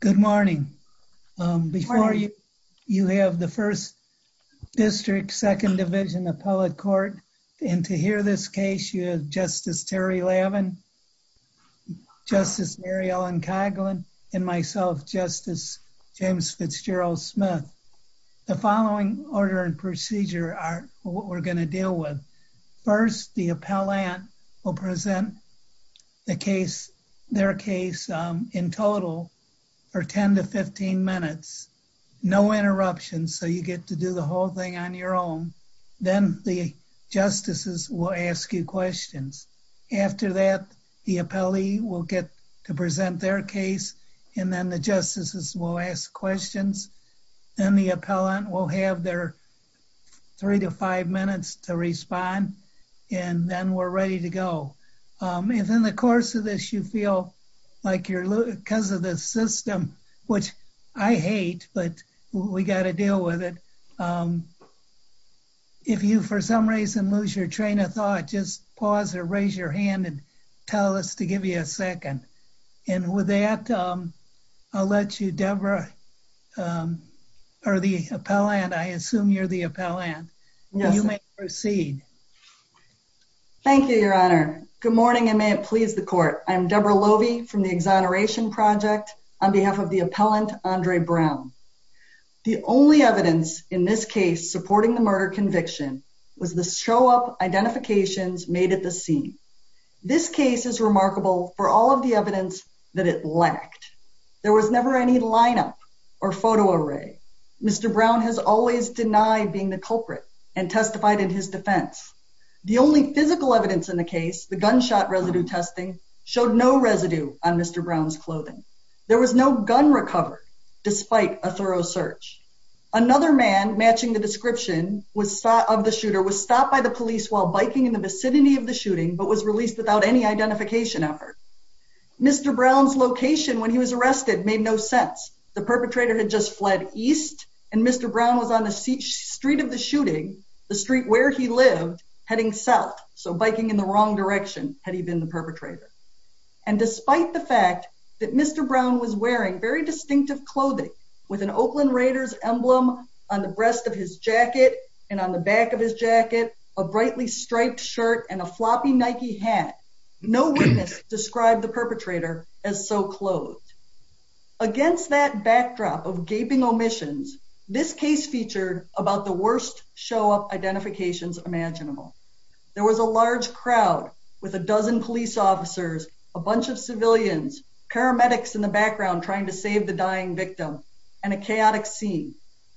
Good morning. Before you, you have the 1st District, 2nd Division Appellate Court, and to hear this case you have Justice Terry Lavin, Justice Mary Ellen Coghlan, and myself, Justice James Fitzgerald Smith. The following order and procedure are what we're going to deal with. First, the appellant will present the case, their case, in total for 10-15 minutes. No interruptions, so you get to do the whole thing on your own. Then the justices will ask you questions. After that, the appellee will get to present their case, and then the appellate will respond, and then we're ready to go. If in the course of this you feel like you're losing, because of the system, which I hate, but we got to deal with it, if you for some reason lose your train of thought, just pause or raise your hand and tell us to give you a second. And with that, I'll let you, Deborah, or the appellant, I assume you're the appellant. You may proceed. Thank you, your honor. Good morning, and may it please the court. I'm Deborah Lovey from the Exoneration Project, on behalf of the appellant Andre Brown. The only evidence in this case supporting the murder conviction was the show-up identifications made at the scene. This case is remarkable for all of the evidence that it lacked. There was never any lineup or photo array. Mr. Brown has always denied being the culprit and testified in his defense. The only physical evidence in the case, the gunshot residue testing, showed no residue on Mr. Brown's clothing. There was no gun recovered, despite a thorough search. Another man, matching the description of the shooter, was stopped by the police while biking in the vicinity of the shooting, but was released without any identification effort. Mr. Brown's location when he was arrested made no sense. The perpetrator had just fled east, and Mr. Brown was on the street of the shooting, the street where he lived, heading south. So biking in the wrong direction had he been the perpetrator. And despite the fact that Mr. Brown was wearing very distinctive clothing, with an Oakland Raiders emblem on the breast of his jacket, and on the back of his jacket, a brightly striped shirt, and a floppy Nike hat, no witness described the as so clothed. Against that backdrop of gaping omissions, this case featured about the worst show up identifications imaginable. There was a large crowd with a dozen police officers, a bunch of civilians, paramedics in the background trying to save the dying victim, and a chaotic scene.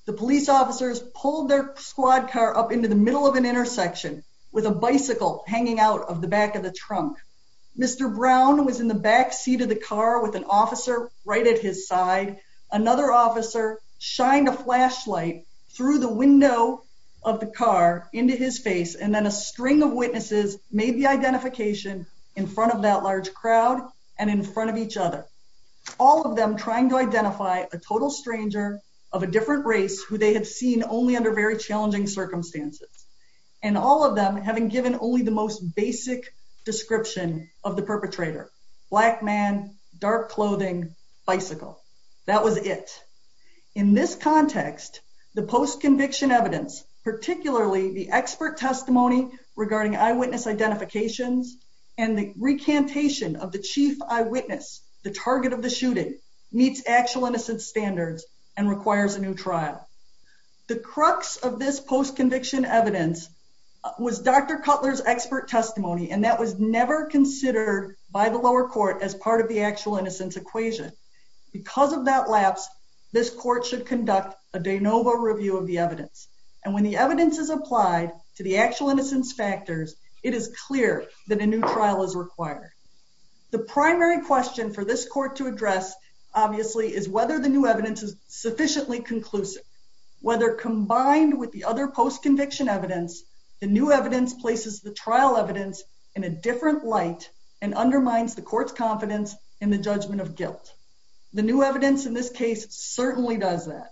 The police officers pulled their squad car up into the middle of an intersection with a bicycle hanging out of the back of the trunk. Mr. Brown was in the backseat of the car with an officer right at his side. Another officer shined a flashlight through the window of the car into his face, and then a string of witnesses made the identification in front of that large crowd and in front of each other. All of them trying to identify a total stranger of a different race who they had seen only under very challenging circumstances, and all of them having given only the most basic description of the perpetrator, black man, dark clothing, bicycle. That was it. In this context, the post conviction evidence, particularly the expert testimony regarding eyewitness identifications, and the recantation of the chief eyewitness, the target of the shooting, meets actual innocence standards and requires a new trial. The crux of this post conviction evidence was Dr. Cutler's expert testimony, and that was never considered by the lower court as part of the actual innocence equation. Because of that lapse, this court should conduct a de novo review of the evidence. And when the evidence is applied to the actual innocence factors, it is clear that a new trial is required. The primary question for this court to address, obviously, is whether the new evidence is sufficiently conclusive. Whether combined with the other post conviction evidence, the new evidence places the trial evidence in a different light, and undermines the court's confidence in the judgment of guilt. The new evidence in this case certainly does that.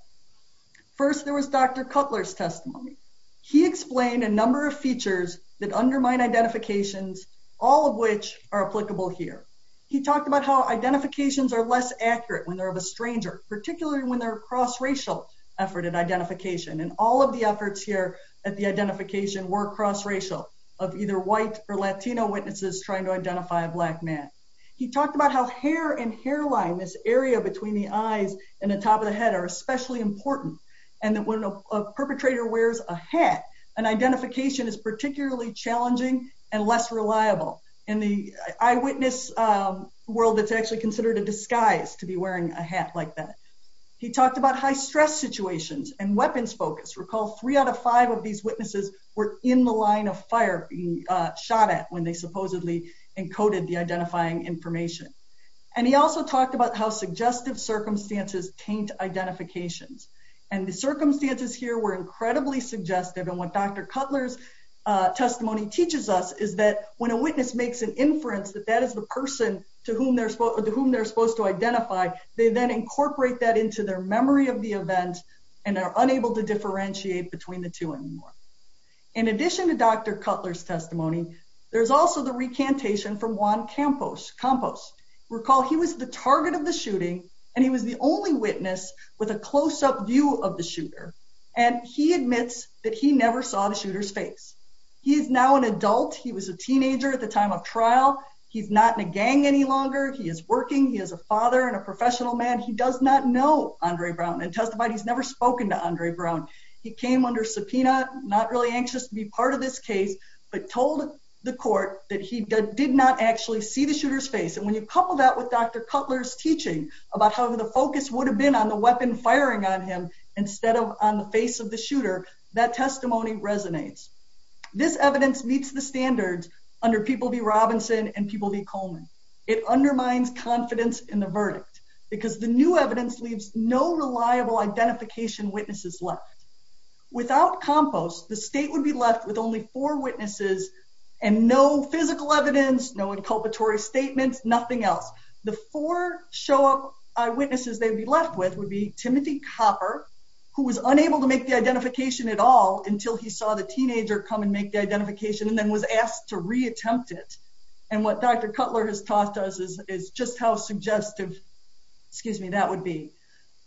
First, there was Dr. Cutler's testimony. He explained a number of features that undermine identifications all of which are applicable here. He talked about how identifications are less accurate when they're of a stranger, particularly when they're cross racial effort and identification and all of the efforts here at the identification were cross racial of either white or Latino witnesses trying to identify a black man. He talked about how hair and hairline, this area between the eyes and the top of the head are especially important. And that when a perpetrator wears a hat, an identification is particularly challenging and less reliable in the eyewitness world that's actually considered a disguise to be wearing a hat like that. He talked about high stress situations and weapons focus recall three out of five of these witnesses were in the line of fire being shot at when they supposedly encoded the identifying information. And he also talked about how suggestive circumstances taint identifications. And the circumstances here were incredibly suggestive. And what Dr. Cutler's testimony teaches us is that when a witness makes an inference that that is the person to whom they're supposed to whom they're supposed to identify, they then incorporate that into their memory of the event, and they're unable to differentiate between the two anymore. In addition to Dr. Cutler's testimony, there's also the recantation from Juan Campos. Recall, he was the target of the shooting, and he was the only witness with a close up view of the shooter. And he admits that he never saw the shooter's face. He's now an adult. He was a teenager at the time of trial. He's not in a gang any longer. He is working he has a father and a professional man. He does not know Andre Brown and testified he's never spoken to Andre Brown. He came under subpoena not really anxious to be part of this case, but told the court that he did not actually see the shooter's face. And when you couple that with Dr. Cutler's teaching about how the focus would have been on the weapon firing on him, instead of on the face of the shooter, that testimony resonates. This evidence meets the standards under People v. Robinson and People v. Coleman. It undermines confidence in the verdict, because the new evidence leaves no reliable identification witnesses left. Without Campos, the state would be left with only four witnesses, and no physical evidence, no witnesses, they'd be left with would be Timothy Copper, who was unable to make the identification at all until he saw the teenager come and make the identification and then was asked to reattempt it. And what Dr. Cutler has taught us is just how suggestive, excuse me, that would be.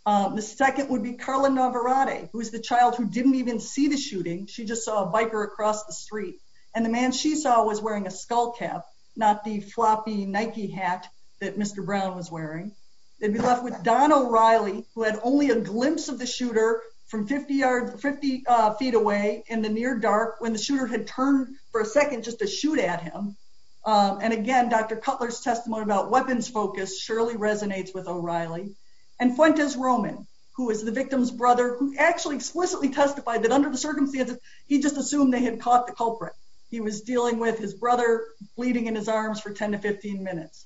The second would be Carla Navarrete, who is the child who didn't even see the shooting. She just saw a biker across the street. And the man she saw was wearing a Nike hat that Mr. Brown was wearing. They'd be left with Don O'Reilly, who had only a glimpse of the shooter from 50 yards 50 feet away in the near dark when the shooter had turned for a second just to shoot at him. And again, Dr. Cutler's testimony about weapons focus surely resonates with O'Reilly. And Fuentes Roman, who is the victim's brother, who actually explicitly testified that under the circumstances, he just assumed they had caught the culprit. He was dealing with his brother bleeding in his arms for 10 to 15 minutes.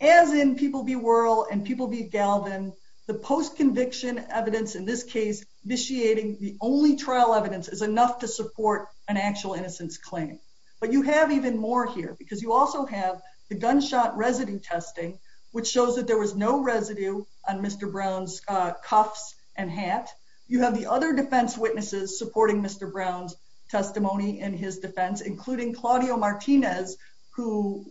As in people be whirl and people be galvan, the post conviction evidence in this case, initiating the only trial evidence is enough to support an actual innocence claim. But you have even more here because you also have the gunshot residue testing, which shows that there was no residue on Mr. Brown's cuffs and hat. You have the other defense witnesses supporting Mr. Brown's testimony in his defense, including Claudio Martinez, who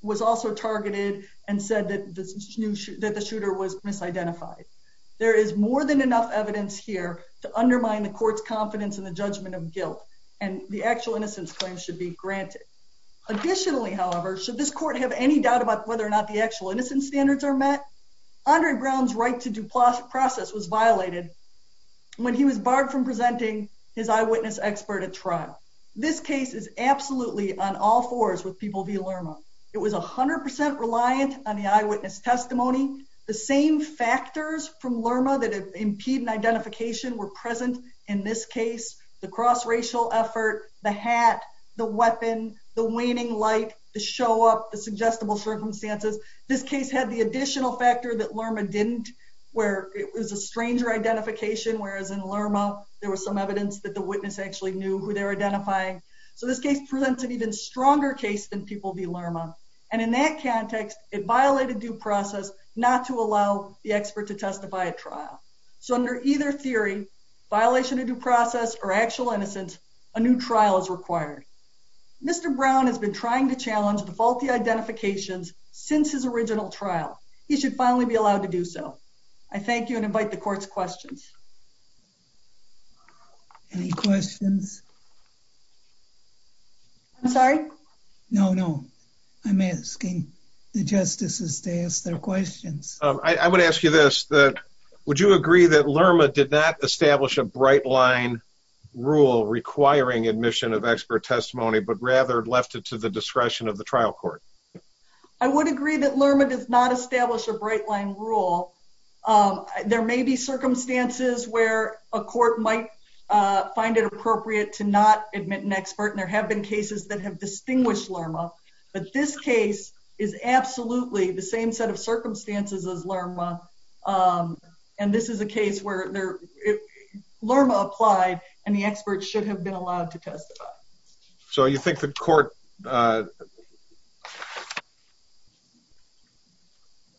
was also targeted and said that this new that the shooter was misidentified. There is more than enough evidence here to undermine the court's confidence in the judgment of guilt, and the actual innocence claim should be granted. Additionally, however, should this court have any doubt about whether or not the actual innocence standards are met? Andre Brown's right to due process was violated. When he was barred from presenting his eyewitness expert at trial. This case is absolutely on all fours with people via Lerma, it was 100% reliant on the eyewitness testimony, the same factors from Lerma that impede an identification were present. In this case, the cross racial effort, the hat, the weapon, the waning light to show up the suggestible circumstances. This case had the additional factor that in Lerma, there was some evidence that the witness actually knew who they're identifying. So this case presents an even stronger case than people via Lerma. And in that context, it violated due process not to allow the expert to testify at trial. So under either theory, violation of due process or actual innocence, a new trial is required. Mr. Brown has been trying to challenge the faulty Any questions? I'm sorry. No, no. I'm asking the justices to ask their questions. I would ask you this that would you agree that Lerma did not establish a bright line rule requiring admission of expert testimony, but rather left it to the discretion of the trial court. I would agree that Lerma does not establish a bright line rule. There may be circumstances where a court might find it appropriate to not admit an expert. And there have been cases that have distinguished Lerma. But this case is absolutely the same set of circumstances as Lerma. And this is a case where Lerma applied, and the experts should have been allowed to testify. So you think the court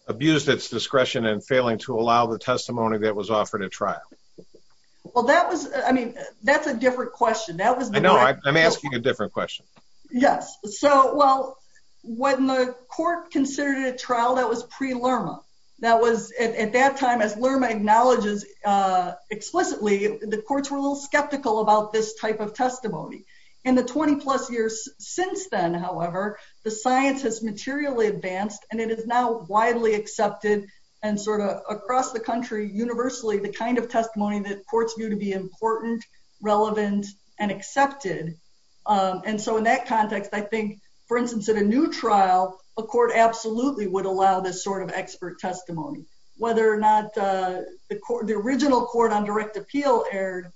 abused its discretion and failing to allow the testimony that was offered at trial? Well, that was, I mean, that's a different question. That was I know, I'm asking a different question. Yes. So well, when the court considered a trial that was pre Lerma, that was at that time, as Lerma acknowledges, explicitly, the courts were a little bit concerned about this type of testimony. In the 20 plus years since then, however, the science has materially advanced, and it is now widely accepted, and sort of across the country, universally, the kind of testimony that courts view to be important, relevant, and accepted. And so in that context, I think, for instance, at a new trial, a court absolutely would allow this sort of expert testimony, whether or not the court, the original court on direct appeal erred,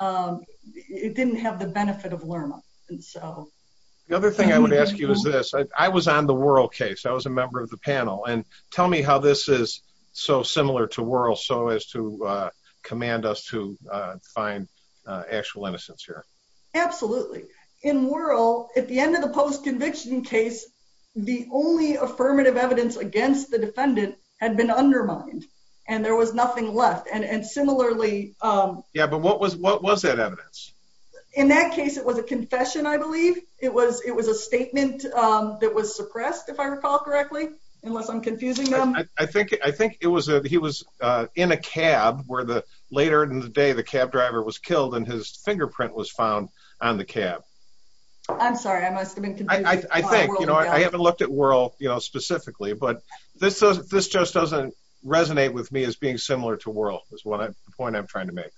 it didn't have the benefit of Lerma. And so the other thing I would ask you is this, I was on the Worrell case, I was a member of the panel. And tell me how this is so similar to Worrell, so as to command us to find actual innocence here. Absolutely. In Worrell, at the end of the post conviction case, the only affirmative evidence against the defendant had been undermined, and there was nothing left. And similarly, yeah, but what was what was that evidence? In that case, it was a confession, I believe it was it was a statement that was suppressed, if I recall correctly, unless I'm confusing them. I think I think it was a he was in a cab where the later in the day, the cab driver was killed, and his fingerprint was found on the cab. I'm sorry, I must have been I think, you know, I haven't looked at Worrell, you know, specifically, but this, this just doesn't resonate with me as being similar to Worrell is what I point I'm trying to make.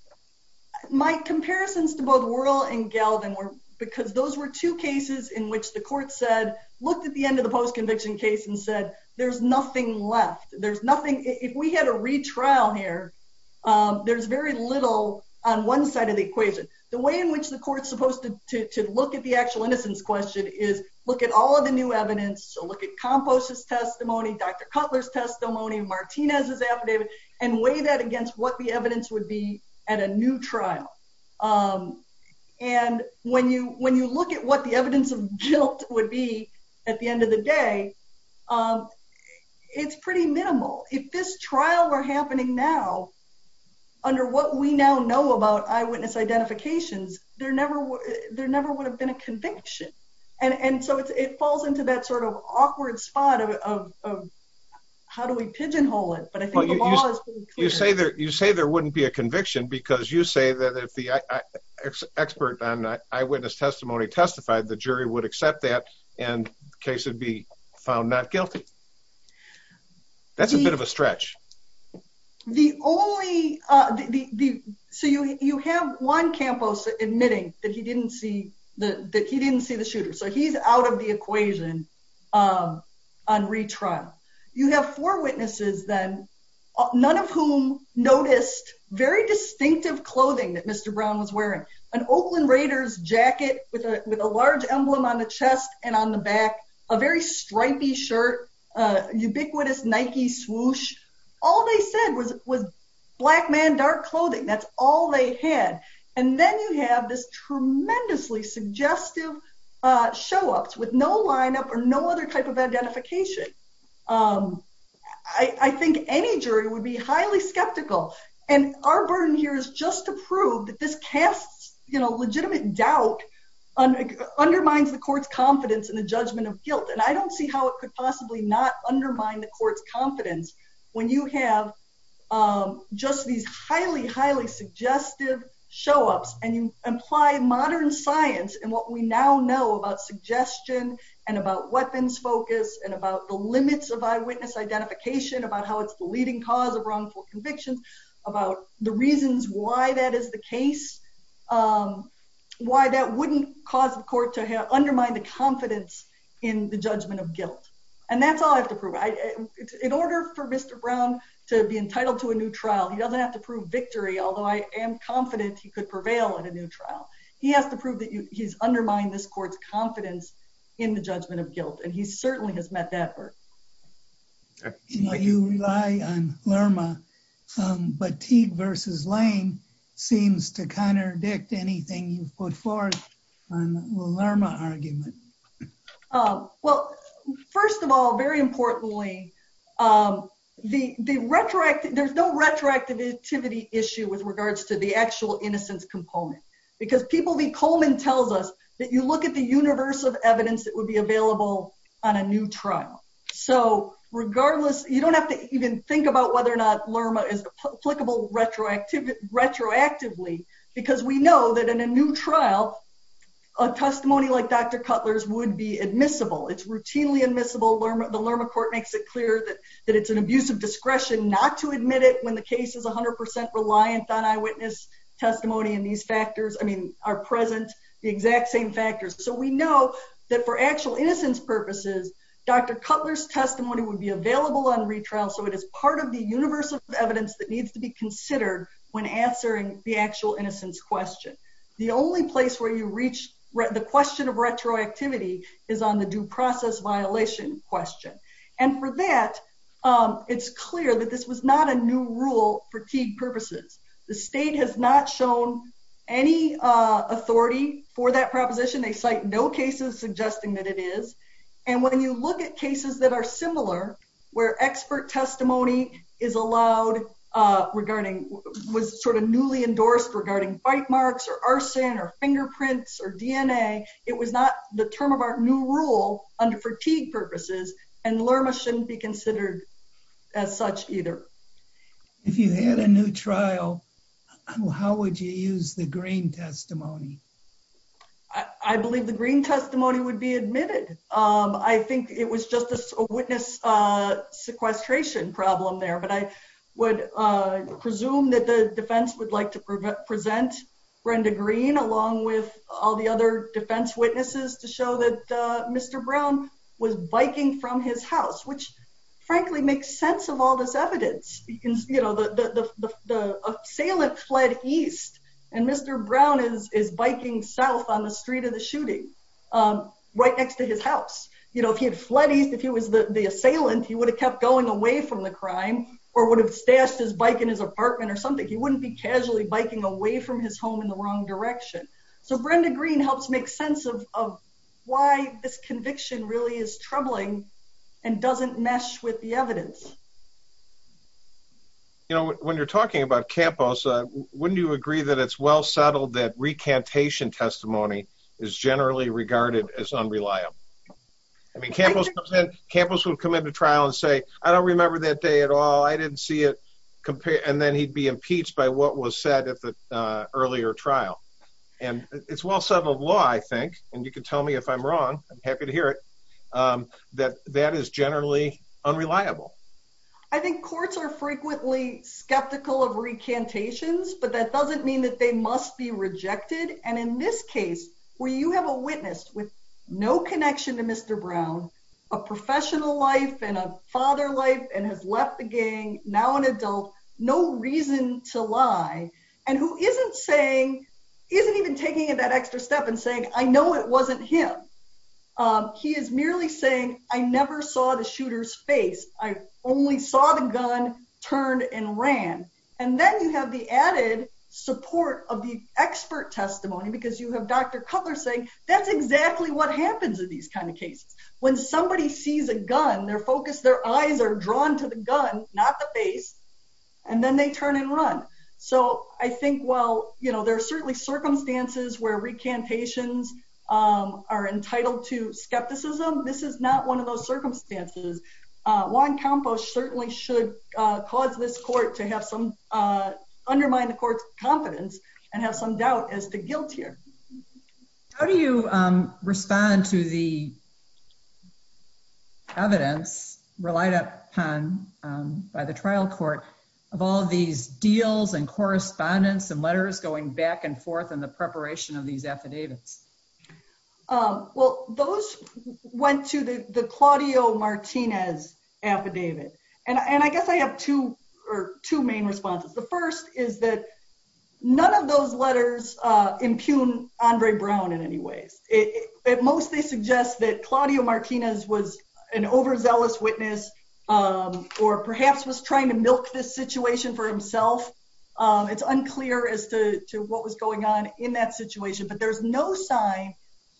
My comparisons to both Worrell and Galvin were because those were two cases in which the court said, looked at the end of the post conviction case and said, there's nothing left. There's nothing if we had a retrial here. There's very little on one side of the equation, the way in which the court supposed to look at the actual innocence question is look at all of the new evidence. So look at compost his testimony, Dr. Cutler's testimony Martinez's affidavit and weigh that against what the evidence would be at a new trial. And when you when you look at what the evidence of guilt would be at the end of the day. It's pretty minimal. If this trial are happening now under what we now know about eyewitness identifications, there never, there never would have been a conviction and and so it falls into that sort of awkward spot of How do we pigeonhole it, but I think You say there, you say there wouldn't be a conviction, because you say that if the Expert on eyewitness testimony testified the jury would accept that and case would be found not guilty. That's a bit of a stretch. The only the so you you have one campus admitting that he didn't see the that he didn't see the shooter. So he's out of the equation. On retrial, you have four witnesses, then None of whom noticed very distinctive clothing that Mr. Brown was wearing an Oakland Raiders jacket with a with a large emblem on the chest and on the back a very stripy shirt. Ubiquitous Nike swoosh all they said was was black man dark clothing. That's all they had. And then you have this tremendously suggestive show ups with no lineup or no other type of identification. I think any jury would be highly skeptical and our burden here is just to prove that this cast, you know, legitimate doubt. On undermines the court's confidence in the judgment of guilt and I don't see how it could possibly not undermine the court's confidence when you have Just these highly, highly suggestive show ups and you apply modern science and what we now know about suggestion and about weapons focus and about the limits of eyewitness identification about how it's the leading cause of wrongful convictions about the reasons why that is the case. Why that wouldn't cause the court to undermine the confidence in the judgment of guilt. And that's all I have to prove I In order for Mr. Brown to be entitled to a new trial. He doesn't have to prove victory, although I am confident he could prevail in a new trial. He has to prove that he's undermined this court's confidence in the judgment of guilt and he certainly has met that work. You rely on Lerma But Teague versus Lane seems to contradict anything you've put forth on the Lerma argument. Well, first of all, very importantly, The, the retroactive there's no retroactivity issue with regards to the actual innocence component. Because people be Coleman tells us that you look at the universe of evidence that would be available on a new trial. So regardless, you don't have to even think about whether or not Lerma is applicable retroactive retroactively because we know that in a new trial. A testimony like Dr. Cutler's would be admissible. It's routinely admissible Lerma the Lerma court makes it clear that That it's an abuse of discretion, not to admit it when the case is 100% reliant on eyewitness testimony in these factors. I mean, our present the exact same factors. So we know That for actual innocence purposes. Dr. Cutler's testimony would be available on retrial. So it is part of the universe of evidence that needs to be considered when answering the actual innocence question. The only place where you reach the question of retroactivity is on the due process violation question. And for that. It's clear that this was not a new rule for key purposes, the state has not shown any authority for that proposition. They cite no cases suggesting that it is And when you look at cases that are similar where expert testimony is allowed regarding was sort of newly endorsed regarding bite marks or arson or fingerprints or DNA. It was not the term of our new rule under fatigue purposes and Lerma shouldn't be considered as such, either. If you had a new trial. How would you use the green testimony. I believe the green testimony would be admitted. I think it was just a witness sequestration problem there, but I would presume that the defense would like to present Brenda green, along with all the other defense witnesses to show that Mr. Brown was biking from his house, which He was biking south on the street of the shooting. Right next to his house, you know, if he had flooded. If he was the assailant, he would have kept going away from the crime. Or would have stashed his bike in his apartment or something. He wouldn't be casually biking away from his home in the wrong direction. So Brenda green helps make sense of why this conviction really is troubling and doesn't mesh with the evidence. You know, when you're talking about campus. Wouldn't you agree that it's well settled that recantation testimony is generally regarded as unreliable. I mean, campus campus will come into trial and say, I don't remember that day at all. I didn't see it compare and then he'd be impeached by what was said at the earlier trial and it's well settled law. I think, and you can tell me if I'm wrong. I'm happy to hear it. That that is generally unreliable. I think courts are frequently skeptical of recantations, but that doesn't mean that they must be rejected. And in this case where you have a witness with no connection to Mr. Brown A professional life and a father life and has left the gang now an adult no reason to lie and who isn't saying isn't even taking that extra step and saying, I know it wasn't him. He is merely saying, I never saw the shooters face. I only saw the gun turned and ran and then you have the added support of the expert testimony because you have Dr. Cutler saying that's exactly what happens in these kind of cases when somebody sees a gun their focus their eyes are drawn to the gun, not the face. And then they turn and run. So I think, well, you know, there are certainly circumstances where recantations are entitled to skepticism. This is not one of those circumstances. Juan Campos certainly should cause this court to have some undermine the court's confidence and have some doubt as to guilt here. How do you respond to the Evidence relied upon by the trial court of all these deals and correspondence and letters going back and forth in the preparation of these affidavits. Well, those went to the the Claudio Martinez affidavit and I guess I have two or two main responses. The first is that None of those letters impugn Andre Brown in any ways. It mostly suggests that Claudio Martinez was an overzealous witness. Or perhaps was trying to milk this situation for himself. It's unclear as to what was going on in that situation, but there's no sign.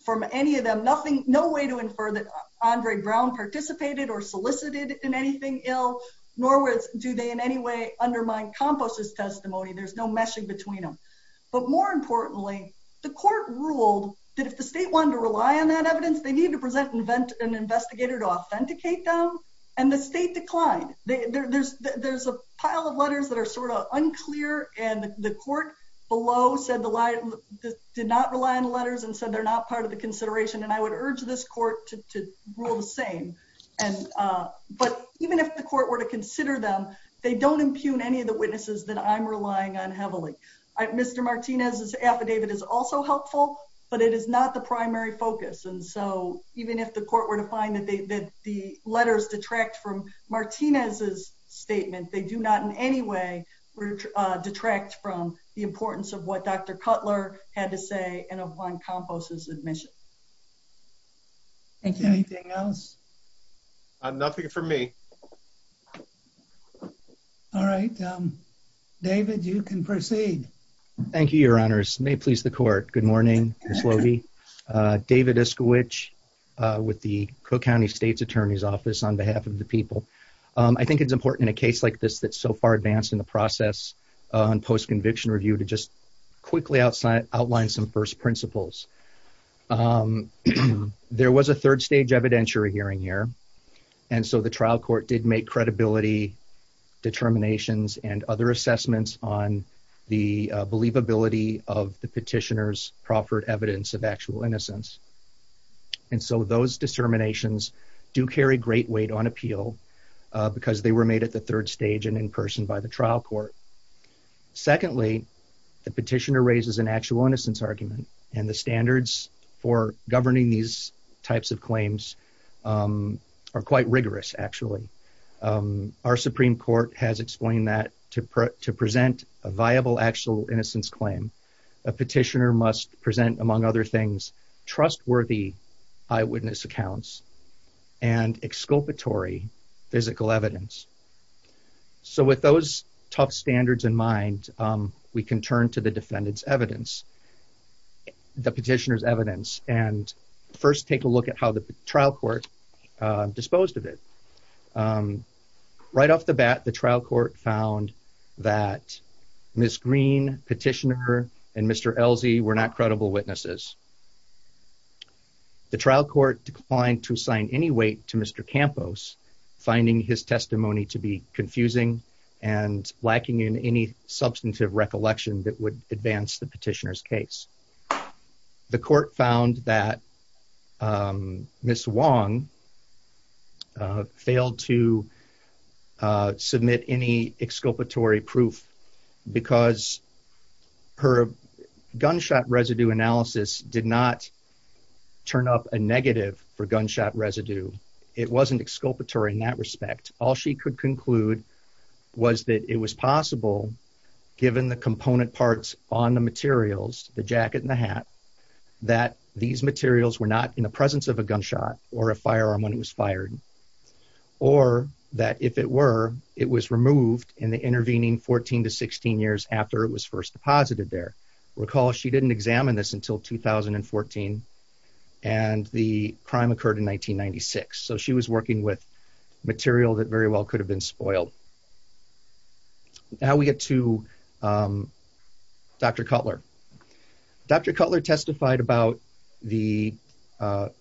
From any of them. Nothing. No way to infer that Andre Brown participated or solicited in anything ill nor with do they in any way undermine Campos's testimony. There's no meshing between them. But more importantly, the court ruled that if the state wanted to rely on that evidence they need to present invent an investigator to authenticate them. And the state declined. There's, there's a pile of letters that are sort of unclear and the court below said the light. Did not rely on letters and so they're not part of the consideration and I would urge this court to rule the same And but even if the court were to consider them. They don't impugn any of the witnesses that I'm relying on heavily Mr. Martinez's affidavit is also helpful, but it is not the primary focus. And so even if the court were to find that they did the letters detract from Martinez's statement. They do not in any way. detract from the importance of what Dr. Cutler had to say and upon Campos's admission Thank you. Anything else Nothing for me. All right, David, you can proceed. Thank you, Your Honors. May please the court. Good morning, Ms. Lohde. David Eskowich with the Cook County State's Attorney's Office on behalf of the people. I think it's important in a case like this that so far advanced in the process on post conviction review to just quickly outside outline some first principles. There was a third stage evidentiary hearing here. And so the trial court did make credibility determinations and other assessments on the believability of the petitioners proffered evidence of actual innocence. And so those disterminations do carry great weight on appeal because they were made at the third stage and in person by the trial court. Secondly, the petitioner raises an actual innocence argument and the standards for governing these types of claims. Are quite rigorous actually Our Supreme Court has explained that to present a viable actual innocence claim a petitioner must present, among other things, trustworthy eyewitness accounts and exculpatory physical evidence. So with those tough standards in mind, we can turn to the defendants evidence. The petitioners evidence and first take a look at how the trial court disposed of it. Right off the bat, the trial court found that Ms. Green petitioner and Mr. Elsie were not credible witnesses. The trial court declined to sign any weight to Mr campus finding his testimony to be confusing and lacking in any substantive recollection that would advance the petitioners case. The court found that Miss Wong Failed to Did not turn up a negative for gunshot residue. It wasn't exculpatory in that respect. All she could conclude was that it was possible. Given the component parts on the materials, the jacket and the hat that these materials were not in the presence of a gunshot or a firearm when it was fired. Or that if it were, it was removed in the intervening 14 to 16 years after it was first deposited there recall she didn't examine this until 2014 and the crime occurred in 1996 so she was working with material that very well could have been spoiled. Now we get to Dr. Cutler Dr. Cutler testified about the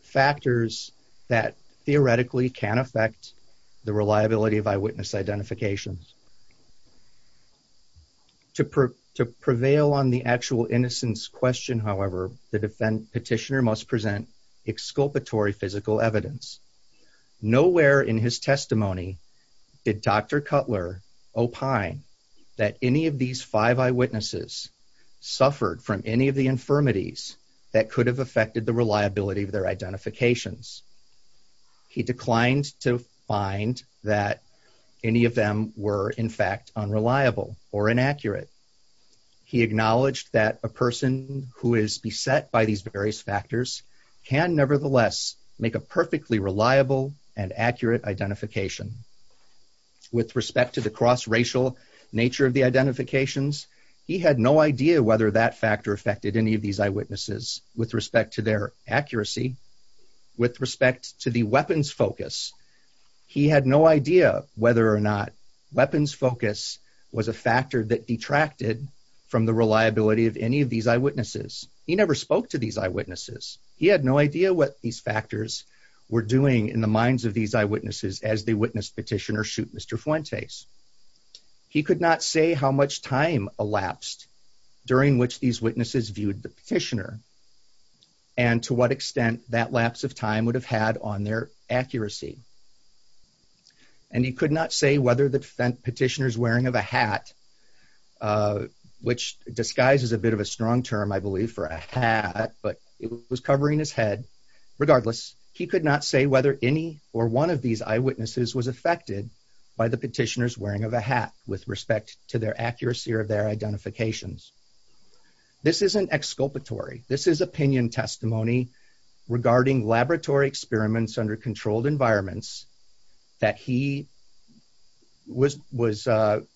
factors that theoretically can affect the reliability of eyewitness identifications. To prove to prevail on the actual innocence question. However, the defend petitioner must present exculpatory physical evidence nowhere in his testimony. Did Dr. Cutler opine that any of these five eyewitnesses suffered from any of the infirmities that could have affected the reliability of their identifications He declined to find that any of them were in fact unreliable or inaccurate. He acknowledged that a person who is beset by these various factors can nevertheless make a perfectly reliable and accurate identification With respect to the cross racial nature of the identifications. He had no idea whether that factor affected any of these eyewitnesses with respect to their accuracy. With respect to the weapons focus. He had no idea whether or not weapons focus was a factor that detracted from the reliability of any of these eyewitnesses. He never spoke to these eyewitnesses. He had no idea what these factors. Were doing in the minds of these eyewitnesses as they witnessed petitioner shoot Mr. Fuentes He could not say how much time elapsed during which these witnesses viewed the petitioner And to what extent that lapse of time would have had on their accuracy. And he could not say whether the petitioners wearing of a hat. Which disguise is a bit of a strong term, I believe, for a hat, but it was covering his head. Regardless, he could not say whether any or one of these eyewitnesses was affected by the petitioners wearing of a hat, with respect to their accuracy or their identifications This isn't exculpatory. This is opinion testimony regarding laboratory experiments under controlled environments that he Was, was,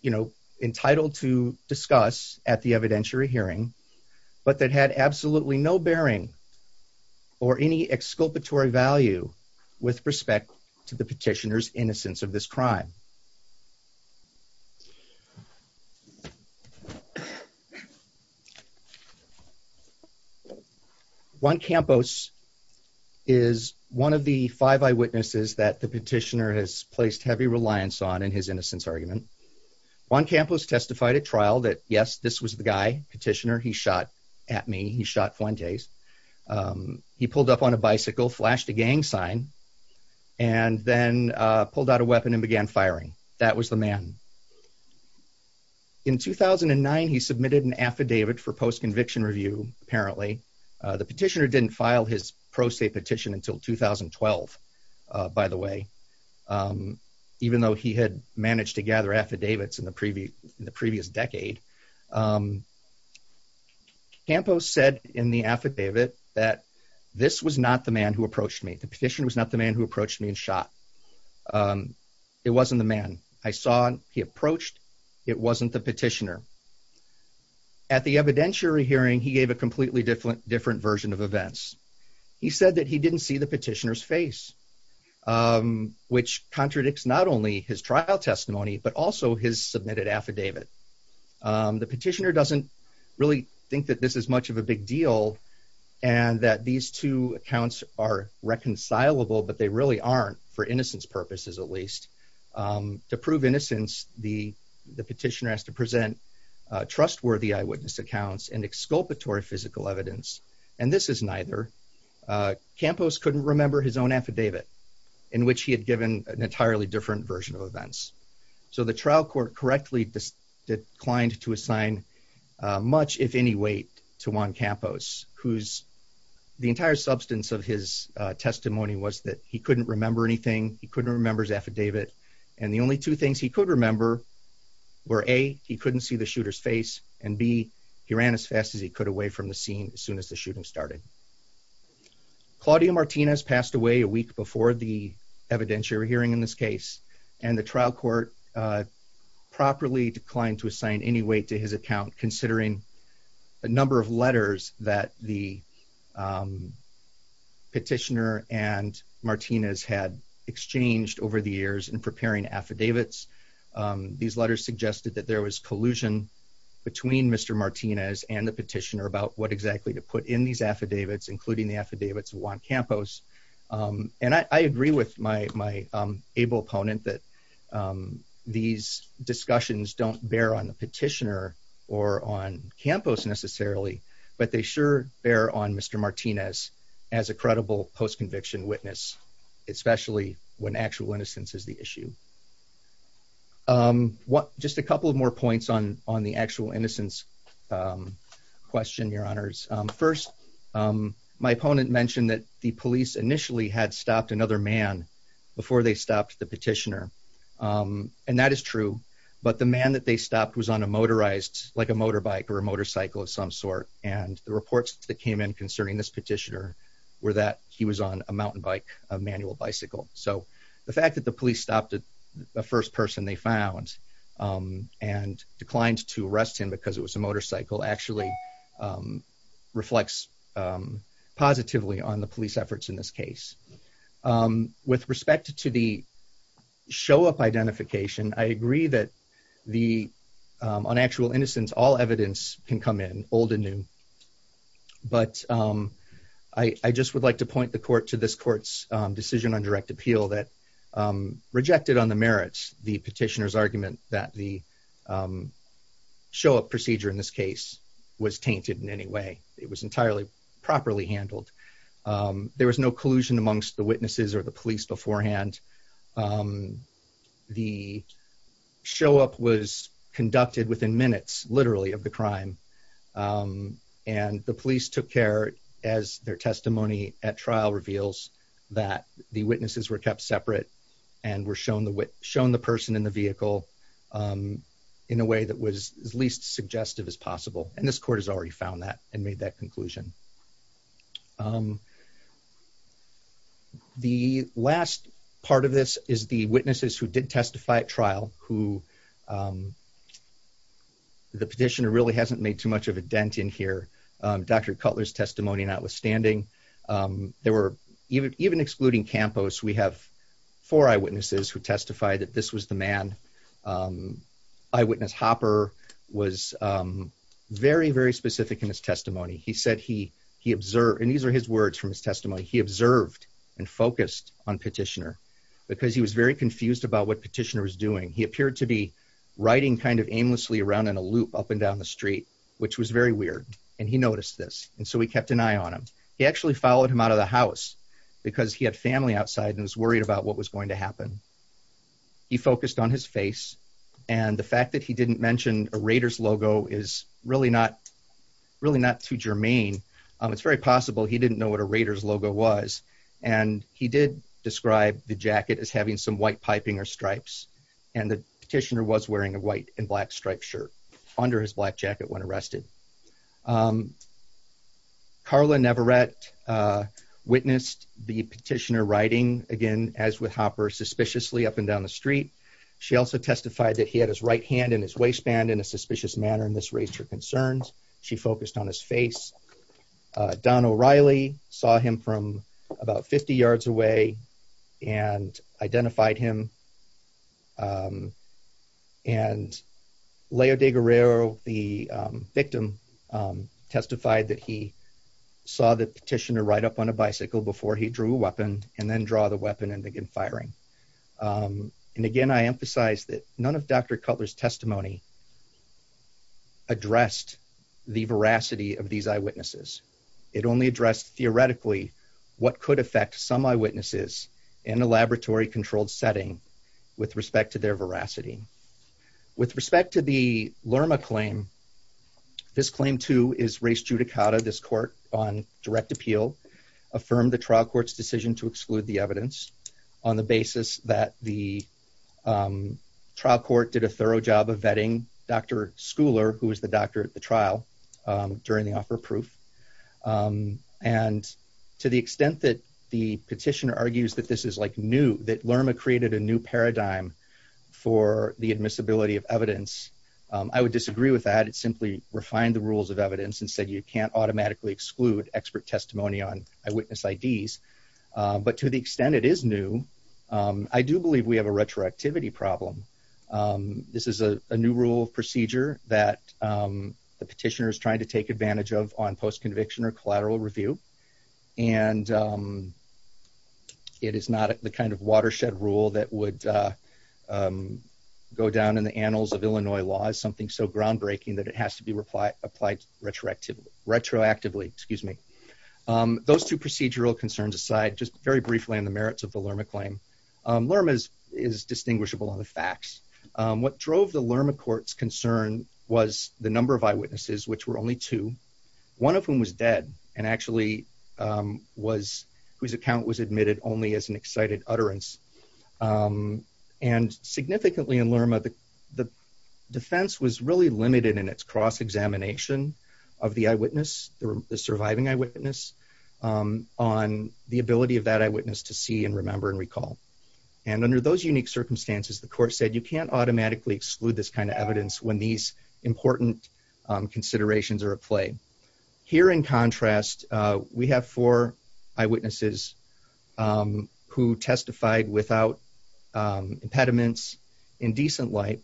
you know, entitled to discuss at the evidentiary hearing, but that had absolutely no bearing. Or any exculpatory value with respect to the petitioners innocence of this crime. Juan Campos is one of the five eyewitnesses that the petitioner has placed heavy reliance on in his innocence argument. Juan Campos testified at trial that, yes, this was the guy petitioner he shot at me. He shot Fuentes He pulled up on a bicycle flashed a gang sign and then pulled out a weapon and began firing. That was the man. In 2009 he submitted an affidavit for post conviction review. Apparently the petitioner didn't file his pro se petition until 2012 by the way. Even though he had managed to gather affidavits in the previous in the previous decade. Campos said in the affidavit that this was not the man who approached me the petition was not the man who approached me and shot. And it wasn't the man I saw he approached it wasn't the petitioner. At the evidentiary hearing, he gave a completely different, different version of events. He said that he didn't see the petitioners face. Which contradicts not only his trial testimony, but also his submitted affidavit. The petitioner doesn't really think that this is much of a big deal and that these two accounts are reconcilable, but they really aren't for innocence purposes, at least. To prove innocence. The, the petitioner has to present trustworthy eyewitness accounts and exculpatory physical evidence and this is neither Campos couldn't remember his own affidavit in which he had given an entirely different version of events. So the trial court correctly declined to assign Much if any weight to Juan Campos who's the entire substance of his testimony was that he couldn't remember anything he couldn't remember his affidavit and the only two things he could remember Were a he couldn't see the shooters face and be he ran as fast as he could away from the scene as soon as the shooting started. Claudia Martinez passed away a week before the evidentiary hearing in this case and the trial court. Properly declined to assign any weight to his account, considering a number of letters that the Petitioner and Martinez had exchanged over the years and preparing affidavits these letters suggested that there was collusion. Between Mr. Martinez and the petitioner about what exactly to put in these affidavits, including the affidavits Juan Campos and I agree with my my able opponent that These discussions don't bear on the petitioner or on campus necessarily but they sure bear on Mr. Martinez as a credible post conviction witness, especially when actual innocence is the issue. What just a couple of more points on on the actual innocence. Question, Your Honors. First, my opponent mentioned that the police initially had stopped another man before they stopped the petitioner And that is true, but the man that they stopped was on a motorized like a motorbike or a motorcycle of some sort. And the reports that came in concerning this petitioner Were that he was on a mountain bike manual bicycle. So the fact that the police stopped at the first person they found And declined to arrest him because it was a motorcycle actually Reflects Positively on the police efforts in this case. With respect to the show up identification. I agree that the on actual innocence all evidence can come in old and new. But I just would like to point the court to this court's decision on direct appeal that rejected on the merits the petitioners argument that the Show up procedure in this case was tainted in any way it was entirely properly handled. There was no collusion amongst the witnesses or the police beforehand. The show up was conducted within minutes literally of the crime. And the police took care as their testimony at trial reveals that the witnesses were kept separate and were shown the wit shown the person in the vehicle. In a way that was as least suggestive as possible. And this court has already found that and made that conclusion. The last part of this is the witnesses who did testify trial who The petitioner really hasn't made too much of a dent in here. Dr. Cutler's testimony, notwithstanding, there were even even excluding campus. We have for eyewitnesses who testify that this was the man. eyewitness Hopper was very, very specific in his testimony. He said he he observed and these are his words from his testimony. He observed and focused on petitioner Because he was very confused about what petitioner is doing. He appeared to be writing kind of aimlessly around in a loop up and down the street. Which was very weird and he noticed this. And so we kept an eye on him. He actually followed him out of the house because he had family outside and was worried about what was going to happen. He focused on his face and the fact that he didn't mention a Raiders logo is really not Too germane, it's very possible. He didn't know what a Raiders logo was and he did describe the jacket is having some white piping or stripes and the petitioner was wearing a white and black striped shirt under his black jacket when arrested. Carla never read witnessed the petitioner writing again as with Hopper suspiciously up and down the street. She also testified that he had his right hand in his waistband in a suspicious manner. And this raised her concerns she focused on his face. Don O'Reilly saw him from about 50 yards away and identified him. And Leo de Guerrero, the victim testified that he saw the petitioner right up on a bicycle before he drew weapon and then draw the weapon and begin firing. And again, I emphasize that none of Dr. Cutler's testimony. Addressed the veracity of these eyewitnesses. It only addressed theoretically what could affect some eyewitnesses in a laboratory controlled setting with respect to their veracity. With respect to the Lerma claim. This claim to is race judicata this court on direct appeal affirm the trial courts decision to exclude the evidence on the basis that the trial court did a thorough job of vetting Dr. Schooler, who was the doctor at the trial during the offer proof. And to the extent that the petitioner argues that this is like new that Lerma created a new paradigm for the admissibility of evidence. I would disagree with that. It simply refined the rules of evidence and said you can't automatically exclude expert testimony on eyewitness IDs, but to the extent it is new. I do believe we have a retroactivity problem. This is a new rule of procedure that the petitioner is trying to take advantage of on post conviction or collateral review and It is not the kind of watershed rule that would Go down in the annals of Illinois law is something so groundbreaking that it has to be replied applied retroactive retroactively, excuse me. Those two procedural concerns aside, just very briefly on the merits of the Lerma claim Lerma is is distinguishable on the facts. What drove the Lerma courts concern was the number of eyewitnesses, which were only two, one of whom was dead and actually was whose account was admitted only as an excited utterance. And significantly in Lerma the the defense was really limited in its cross examination of the eyewitness the surviving eyewitness On the ability of that eyewitness to see and remember and recall and under those unique circumstances, the court said you can't automatically exclude this kind of evidence when these important considerations are at play here in contrast, we have four eyewitnesses Who testified without impediments in decent light.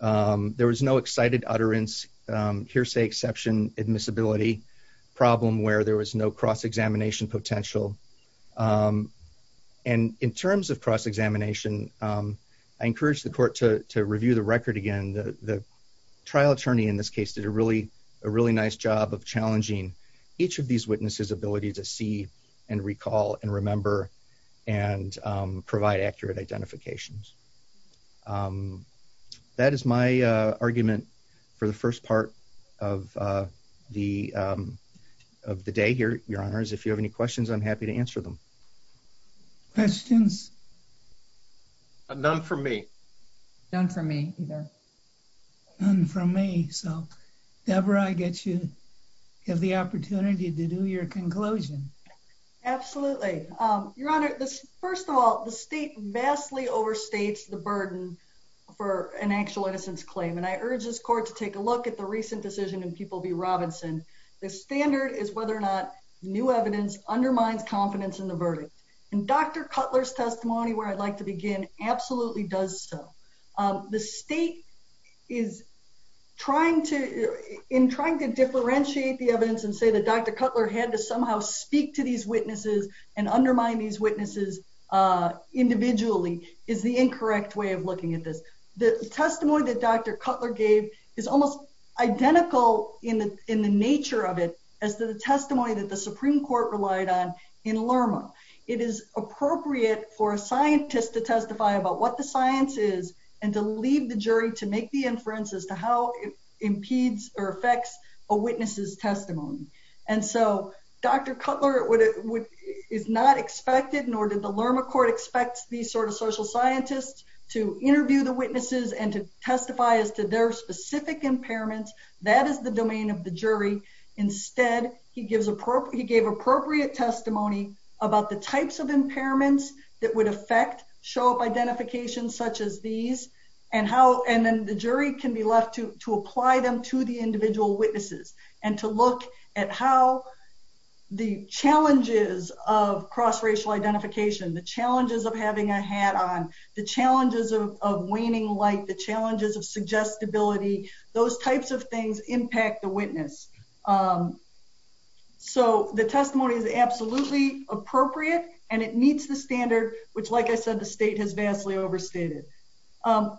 There was no excited utterance hearsay exception admissibility problem where there was no cross examination potential And in terms of cross examination. I encourage the court to review the record. Again, the trial attorney in this case did a really, a really nice job of challenging each of these witnesses ability to see and recall and remember and provide accurate identifications That is my argument for the first part of the Of the day here, your honors. If you have any questions, I'm happy to answer them. Questions. None for me. None for me either. And for me. So, Deborah, I get you have the opportunity to do your conclusion. Absolutely. Your Honor, this. First of all, the state vastly overstates the burden for an actual innocence claim and I urge this court to take a look at the recent decision and people be Robinson. The standard is whether or not new evidence undermines confidence in the verdict and Dr. Cutler's testimony where I'd like to begin absolutely does so. The state is trying to in trying to differentiate the evidence and say that Dr. Cutler had to somehow speak to these witnesses and undermine these witnesses. Individually is the incorrect way of looking at this the testimony that Dr. Cutler gave is almost identical in the in the nature of it as the testimony that the Supreme Court relied on in Lerma It is appropriate for a scientist to testify about what the science is and to leave the jury to make the inferences to how it impedes or affects a witnesses testimony. And so, Dr. Cutler would it would is not expected, nor did the Lerma court expects these sort of social scientists to interview the witnesses and to testify as to their specific impairments. That is the domain of the jury. Instead, he gives appropriate he gave appropriate testimony about the types of impairments that would affect show up identification, such as these And how and then the jury can be left to apply them to the individual witnesses and to look at how The challenges of cross racial identification, the challenges of having a hat on the challenges of waning light the challenges of suggestibility those types of things impact the witness. So the testimony is absolutely appropriate and it meets the standard, which, like I said, the state has vastly overstated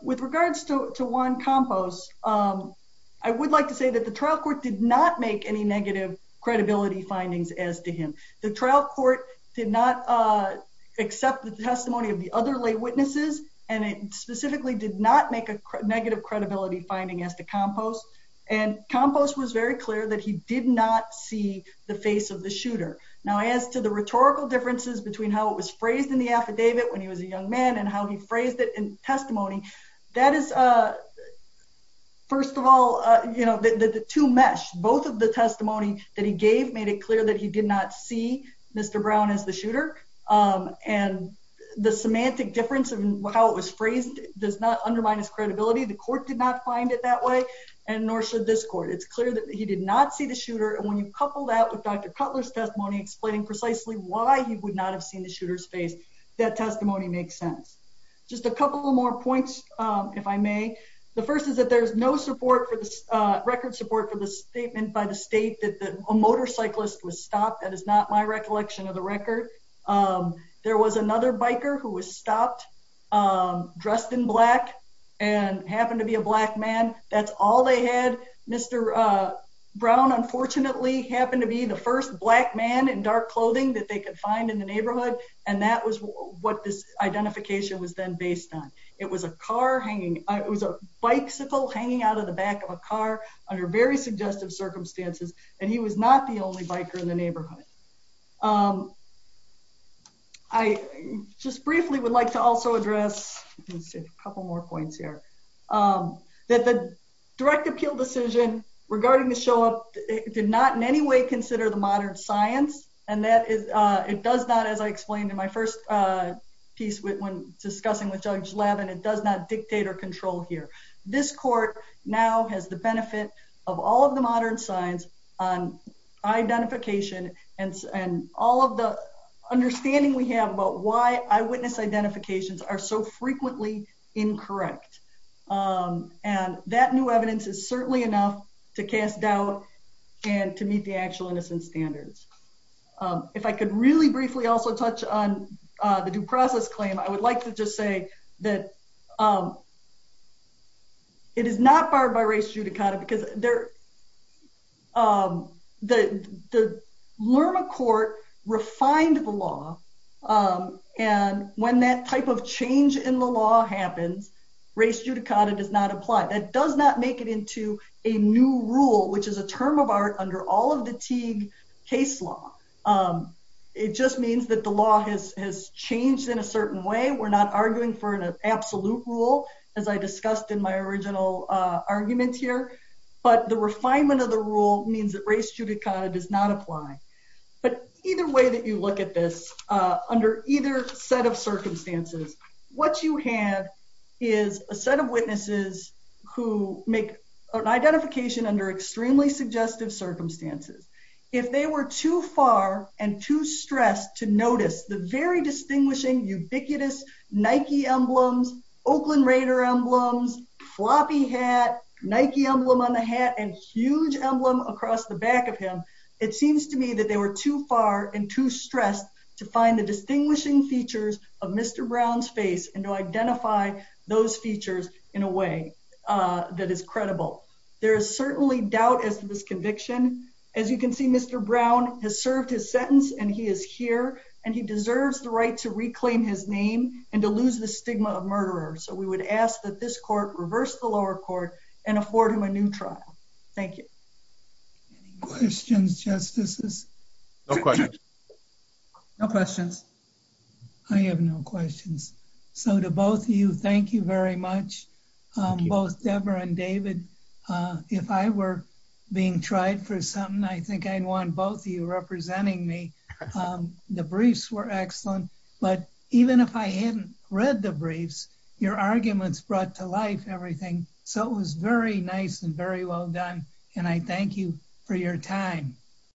with regards to one compost. I would like to say that the trial court did not make any negative credibility findings as to him the trial court did not Accept the testimony of the other lay witnesses and it specifically did not make a negative credibility finding as to compost. And compost was very clear that he did not see the face of the shooter. Now, as to the rhetorical differences between how it was phrased in the affidavit when he was a young man and how he phrased it in testimony that is a First of all, you know, the two mesh, both of the testimony that he gave made it clear that he did not see Mr. Brown is the shooter. And the semantic difference of how it was phrased does not undermine his credibility. The court did not find it that way. And nor should this court, it's clear that he did not see the shooter. And when you couple that with Dr. Cutler's testimony explaining precisely why he would not have seen the shooters face that testimony makes sense. Just a couple more points, if I may. The first is that there's no support for the record support for the statement by the state that the motorcyclist was stopped. That is not my recollection of the record. There was another biker who was stopped. I'm dressed in black and happened to be a black man. That's all they had Mr. Brown, unfortunately, happened to be the first black man in dark clothing that they could find in the neighborhood. And that was what this identification was then based on it was a car hanging. It was a bicycle hanging out of the back of a car under very suggestive circumstances and he was not the only biker in the neighborhood. I just briefly would like to also address a couple more points here. That the direct appeal decision regarding the show up did not in any way consider the modern science and that is, it does not, as I explained in my first piece when discussing with Judge Levin, it does not dictate or control here. This court now has the benefit of all of the modern science on identification and all of the understanding we have about why eyewitness identifications are so frequently incorrect. And that new evidence is certainly enough to cast doubt and to meet the actual innocence standards. If I could really briefly also touch on the due process claim, I would like to just say that it is not barred by race judicata because the Lerma court refined the law. And when that type of change in the law happens, race judicata does not apply. That does not make it into a new rule, which is a term of art under all of the Teague case law. It just means that the law has has changed in a certain way. We're not arguing for an absolute rule, as I discussed in my original argument here. But the refinement of the rule means that race judicata does not apply. But either way that you look at this, under either set of circumstances, what you have is a set of witnesses who make an identification under extremely suggestive circumstances. If they were too far and too stressed to notice the very distinguishing ubiquitous Nike emblems, Oakland Raider emblems, floppy hat, Nike emblem on the hat, and huge emblem across the back of him, it seems to me that they were too far and too stressed to find the distinguishing features of Mr. Brown's face and to identify those features in a way that is credible. There is certainly doubt as to this conviction. As you can see, Mr. Brown has served his sentence and he is here and he deserves the right to reclaim his name and to lose the stigma of murderers. So we would ask that this court reverse the lower court and afford him a new trial. Thank you. Questions, Justices? No questions. No questions. I have no questions. So to both of you, thank you very much. Both Debra and David, if I were being tried for something, I think I'd want both of you representing me. The briefs were excellent. But even if I hadn't read the briefs, your arguments brought to life everything. So it was very nice and very well done. And I thank you for your time.